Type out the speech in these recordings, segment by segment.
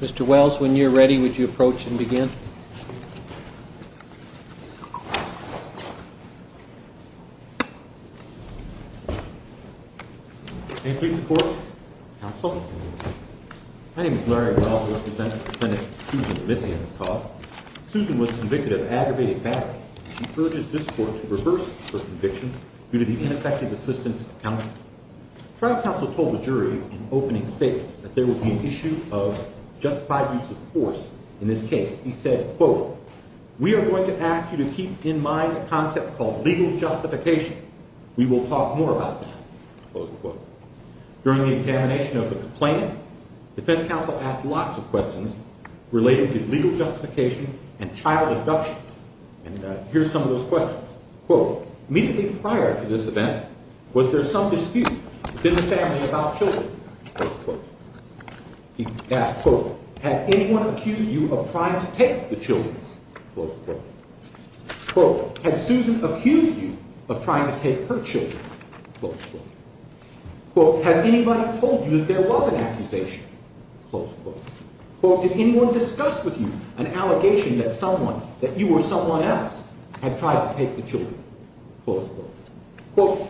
Mr. Wells, when you're ready, would you approach and begin? Please support counsel. My name is Larry. We are going to ask you to keep in mind the concept of legal justification. We will talk more about that. During the examination of the complaint, defense counsel asked lots of questions related to legal justification and child abduction. And here's some of those questions. Immediately prior to this event, was there some dispute within the family about children? Has anyone accused you of trying to take the children? Has Susan accused you of trying to take her children? Has anybody told you that there was an accusation? Did anyone discuss with you an allegation that you or someone else had tried to take the children?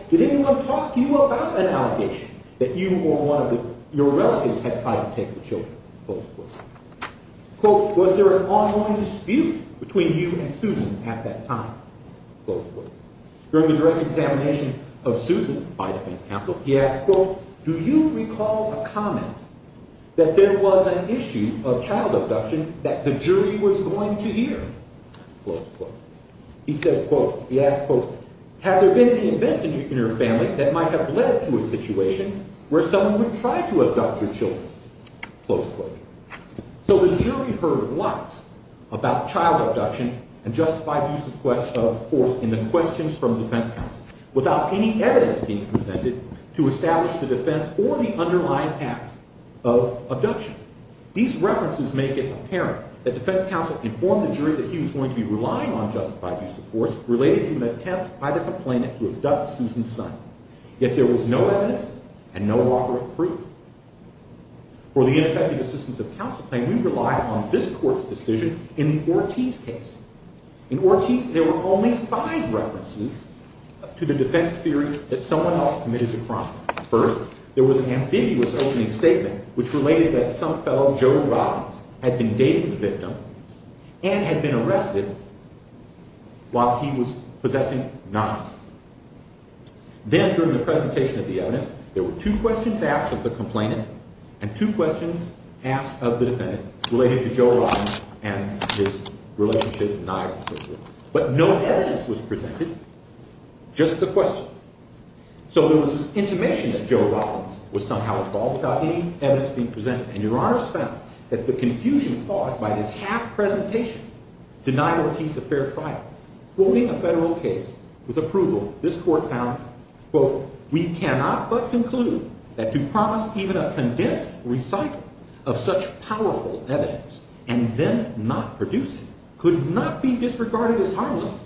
Did anyone talk to you about an allegation that you or one of your relatives had tried to take the children? Was there an ongoing dispute between you and Susan at that time? During the direct examination of Susan by defense counsel, he asked, Do you recall a comment that there was an issue of child abduction that the jury was going to hear? He said, quote, he asked, quote, Had there been any events in your family that might have led to a situation where someone would try to abduct your children? Close quote. So the jury heard lots about child abduction and justified use of force in the questions from defense counsel without any evidence being presented to establish the defense or the underlying act of abduction. These references make it apparent that defense counsel informed the jury that he was going to be relying on justified use of force related to an attempt by the complainant to abduct Susan's son. Yet there was no evidence and no author of proof. For the ineffective assistance of counsel claim, we rely on this court's decision in the Ortiz case. In Ortiz, there were only five references to the defense theory that someone else committed the crime. First, there was an ambiguous opening statement which related that some fellow, Joe Robbins, had been dating the victim and had been arrested while he was possessing Niles. Then during the presentation of the evidence, there were two questions asked of the complainant and two questions asked of the defendant related to Joe Robbins and his relationship with Niles and so forth. But no evidence was presented, just the question. So there was this intimation that Joe Robbins was somehow involved without any evidence being presented. And your honors found that the confusion caused by this half-presentation denied Ortiz a fair trial. Quoting a federal case with approval, this court found, quote, we cannot but conclude that to promise even a condensed recital of such powerful evidence and then not produce it could not be disregarded as harmless.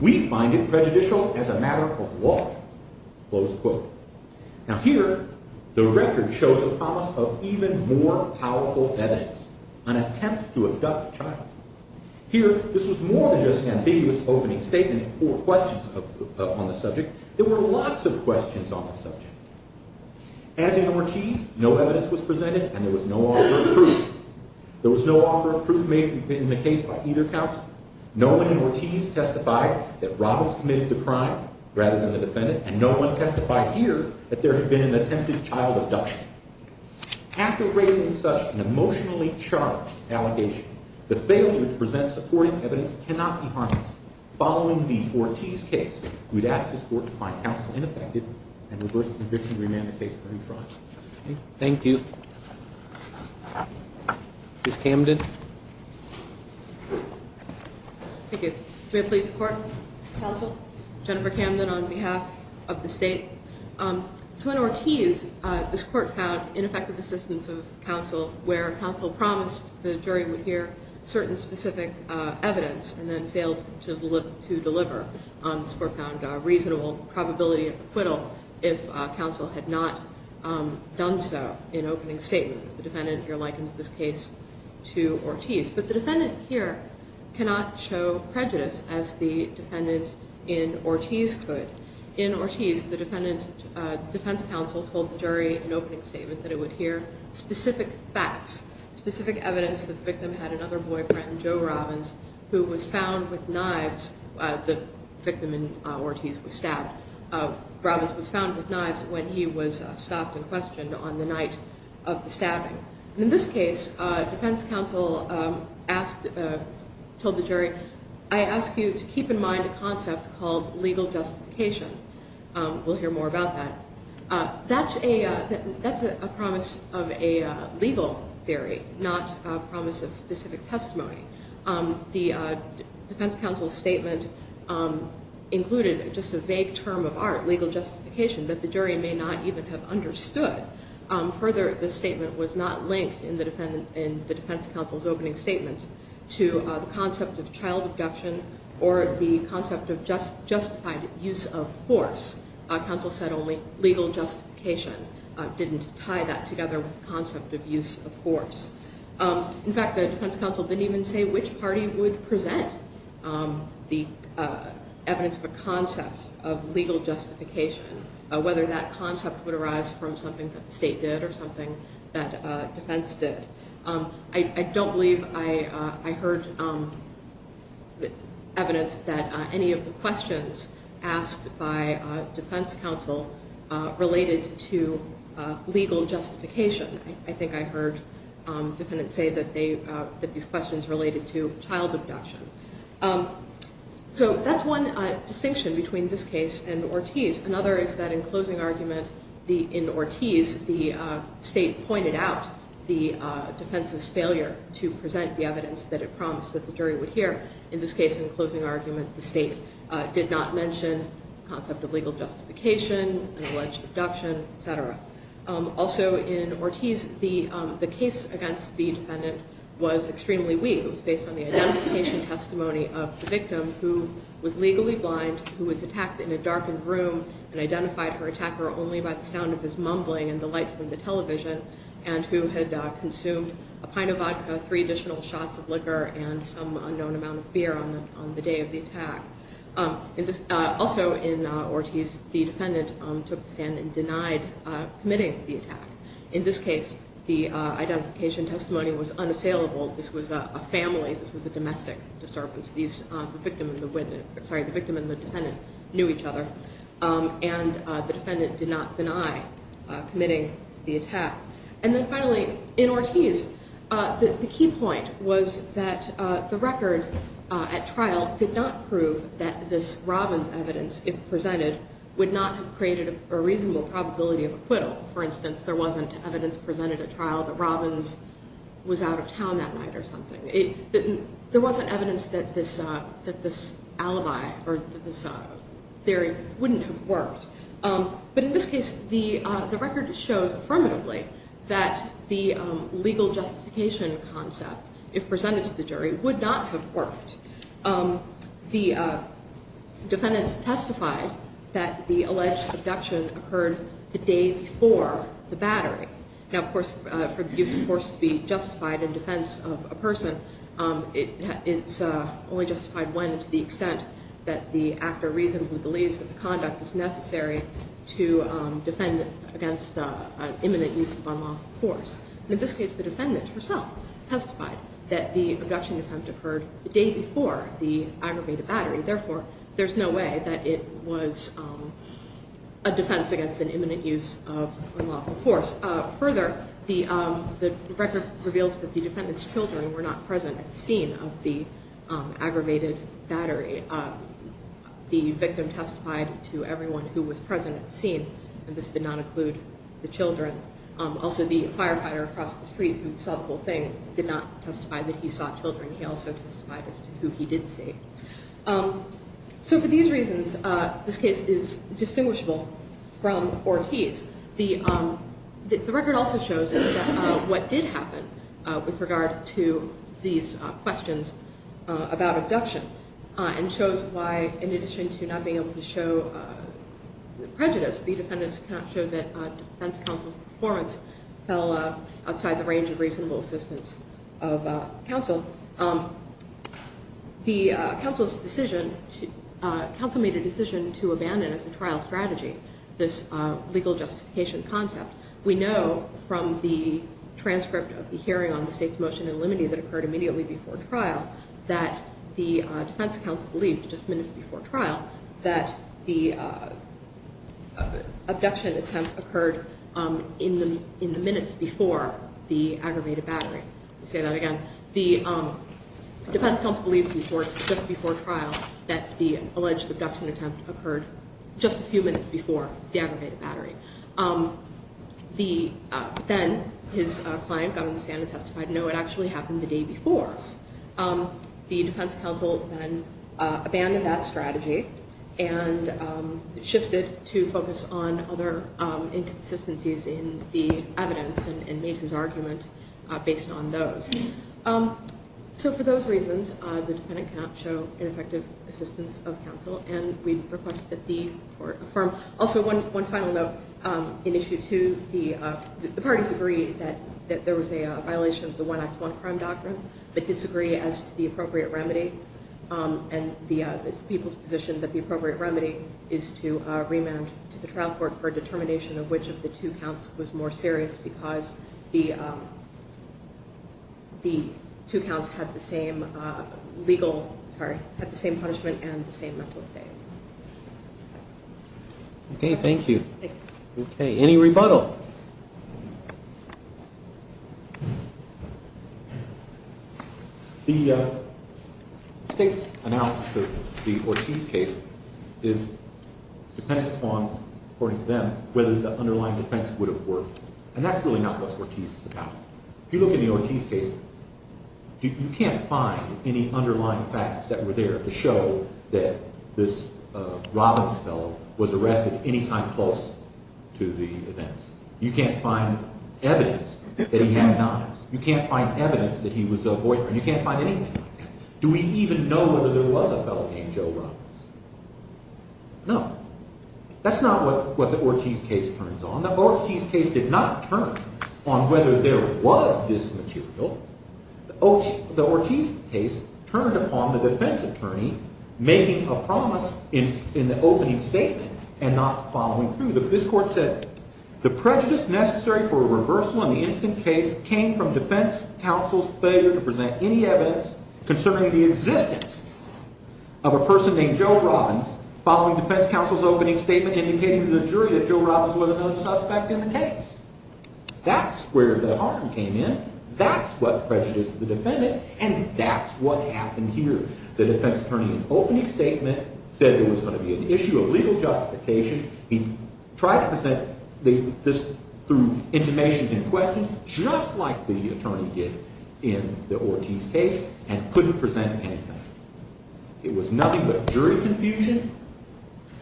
We find it prejudicial as a matter of law, close quote. Now here, the record shows a promise of even more powerful evidence, an attempt to abduct a child. Here, this was more than just an ambiguous opening statement or questions on the subject. There were lots of questions on the subject. As in Ortiz, no evidence was presented and there was no offer of proof. There was no offer of proof made in the case by either counsel. No one in Ortiz testified that Robbins committed the crime rather than the defendant, and no one testified here that there had been an attempted child abduction. After raising such an emotionally charged allegation, the failure to present supporting evidence cannot be harmless. Following the Ortiz case, we'd ask this court to find counsel ineffective and reverse the conviction to remand the case to a new trial. Thank you. Ms. Camden. Thank you. Do I please support counsel Jennifer Camden on behalf of the state? So in Ortiz, this court found ineffective assistance of counsel where counsel promised the jury would hear certain specific evidence and then failed to deliver. This court found a reasonable probability of acquittal if counsel had not done so in opening statement. The defendant here likens this case to Ortiz. But the defendant here cannot show prejudice as the defendant in Ortiz could. In Ortiz, the defense counsel told the jury in opening statement that it would hear specific facts, specific evidence that the victim had another boyfriend, Joe Robbins, who was found with knives, the victim in Ortiz was stabbed. Robbins was found with knives when he was stopped and questioned on the night of the stabbing. In this case, defense counsel told the jury, I ask you to keep in mind a concept called legal justification. We'll hear more about that. That's a promise of a legal theory, not a promise of specific testimony. The defense counsel's statement included just a vague term of art, legal justification, that the jury may not even have understood. Further, the statement was not linked in the defense counsel's opening statements to the concept of child abduction or the concept of justified use of force. Counsel said only legal justification didn't tie that together with the concept of use of force. In fact, the defense counsel didn't even say which party would present the evidence of a concept of legal justification, whether that concept would arise from something that the state did or something that defense did. I don't believe I heard evidence that any of the questions asked by defense counsel related to legal justification. I think I heard defendants say that these questions related to child abduction. So that's one distinction between this case and Ortiz. Another is that in closing argument, in Ortiz, the state pointed out the defense's failure to present the evidence that it promised that the jury would hear. In this case, in closing argument, the state did not mention the concept of legal justification and alleged abduction, et cetera. Also in Ortiz, the case against the defendant was extremely weak. It was based on the identification testimony of the victim, who was legally blind, who was attacked in a darkened room and identified her attacker only by the sound of his mumbling and the light from the television, and who had consumed a pint of vodka, three additional shots of liquor, and some unknown amount of beer on the day of the attack. Also in Ortiz, the defendant took the stand and denied committing the attack. In this case, the identification testimony was unassailable. This was a family. This was a domestic disturbance. The victim and the defendant knew each other, and the defendant did not deny committing the attack. And then finally, in Ortiz, the key point was that the record at trial did not prove that this Robbins evidence, if presented, would not have created a reasonable probability of acquittal. For instance, there wasn't evidence presented at trial that Robbins was out of town that night or something. There wasn't evidence that this alibi or this theory wouldn't have worked. But in this case, the record shows affirmatively that the legal justification concept, if presented to the jury, would not have worked. The defendant testified that the alleged abduction occurred the day before the battery. Now, of course, for the use of force to be justified in defense of a person, it's only justified when to the extent that the actor reasonably believes that the conduct is necessary to defend against an imminent use of unlawful force. In this case, the defendant herself testified that the abduction attempt occurred the day before the aggravated battery. Therefore, there's no way that it was a defense against an imminent use of unlawful force. Of course, further, the record reveals that the defendant's children were not present at the scene of the aggravated battery. The victim testified to everyone who was present at the scene, and this did not include the children. Also, the firefighter across the street who saw the whole thing did not testify that he saw children. He also testified as to who he did see. So for these reasons, this case is distinguishable from Ortiz. The record also shows what did happen with regard to these questions about abduction and shows why, in addition to not being able to show the prejudice, the defendants cannot show that defense counsel's performance fell outside the range of reasonable assistance of counsel. The counsel made a decision to abandon, as a trial strategy, this legal justification concept. We know from the transcript of the hearing on the state's motion in limine that occurred immediately before trial that the defense counsel believed just minutes before trial that the abduction attempt occurred in the minutes before the aggravated battery. Let me say that again. The defense counsel believed just before trial that the alleged abduction attempt occurred just a few minutes before the aggravated battery. Then his client got on the stand and testified, no, it actually happened the day before. The defense counsel then abandoned that strategy and shifted to focus on other inconsistencies in the evidence and made his argument based on those. So for those reasons, the defendant cannot show ineffective assistance of counsel, and we request that the court affirm. Also, one final note. In issue 2, the parties agree that there was a violation of the One Act, One Crime doctrine, but disagree as to the appropriate remedy, and it's the people's position that the appropriate remedy is to remand to the trial court for determination of which of the two counts was more serious because the two counts had the same legal, sorry, had the same punishment and the same mental state. Okay, thank you. Any rebuttal? The state's analysis of the Ortiz case is dependent upon, according to them, whether the underlying defense would have worked, and that's really not what Ortiz is about. If you look in the Ortiz case, you can't find any underlying facts that were there to show that this Robbins fellow was arrested any time close to the events. You can't find evidence that he had knives. You can't find evidence that he was a boyfriend. You can't find anything like that. Do we even know whether there was a fellow named Joe Robbins? No. That's not what the Ortiz case turns on. The Ortiz case did not turn on whether there was this material. The Ortiz case turned upon the defense attorney making a promise in the opening statement and not following through. This court said the prejudice necessary for a reversal in the incident case came from defense counsel's failure to present any evidence concerning the existence of a person named Joe Robbins following defense counsel's opening statement indicating to the jury that Joe Robbins was another suspect in the case. That's where the harm came in. That's what prejudiced the defendant, and that's what happened here. The defense attorney in opening statement said there was going to be an issue of legal justification. He tried to present this through intimations and questions just like the attorney did in the Ortiz case and couldn't present anything. It was nothing but jury confusion,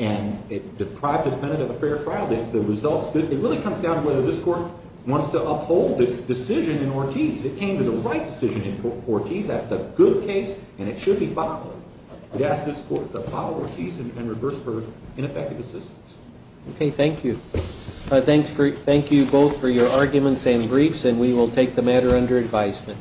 and it deprived the defendant of a fair trial. The results, it really comes down to whether this court wants to uphold its decision in Ortiz. It came to the right decision in Ortiz. That's a good case, and it should be followed. We ask this court to follow Ortiz and reverse verdict in effective assistance. Okay, thank you. Thank you both for your arguments and briefs, and we will take the matter under advisement.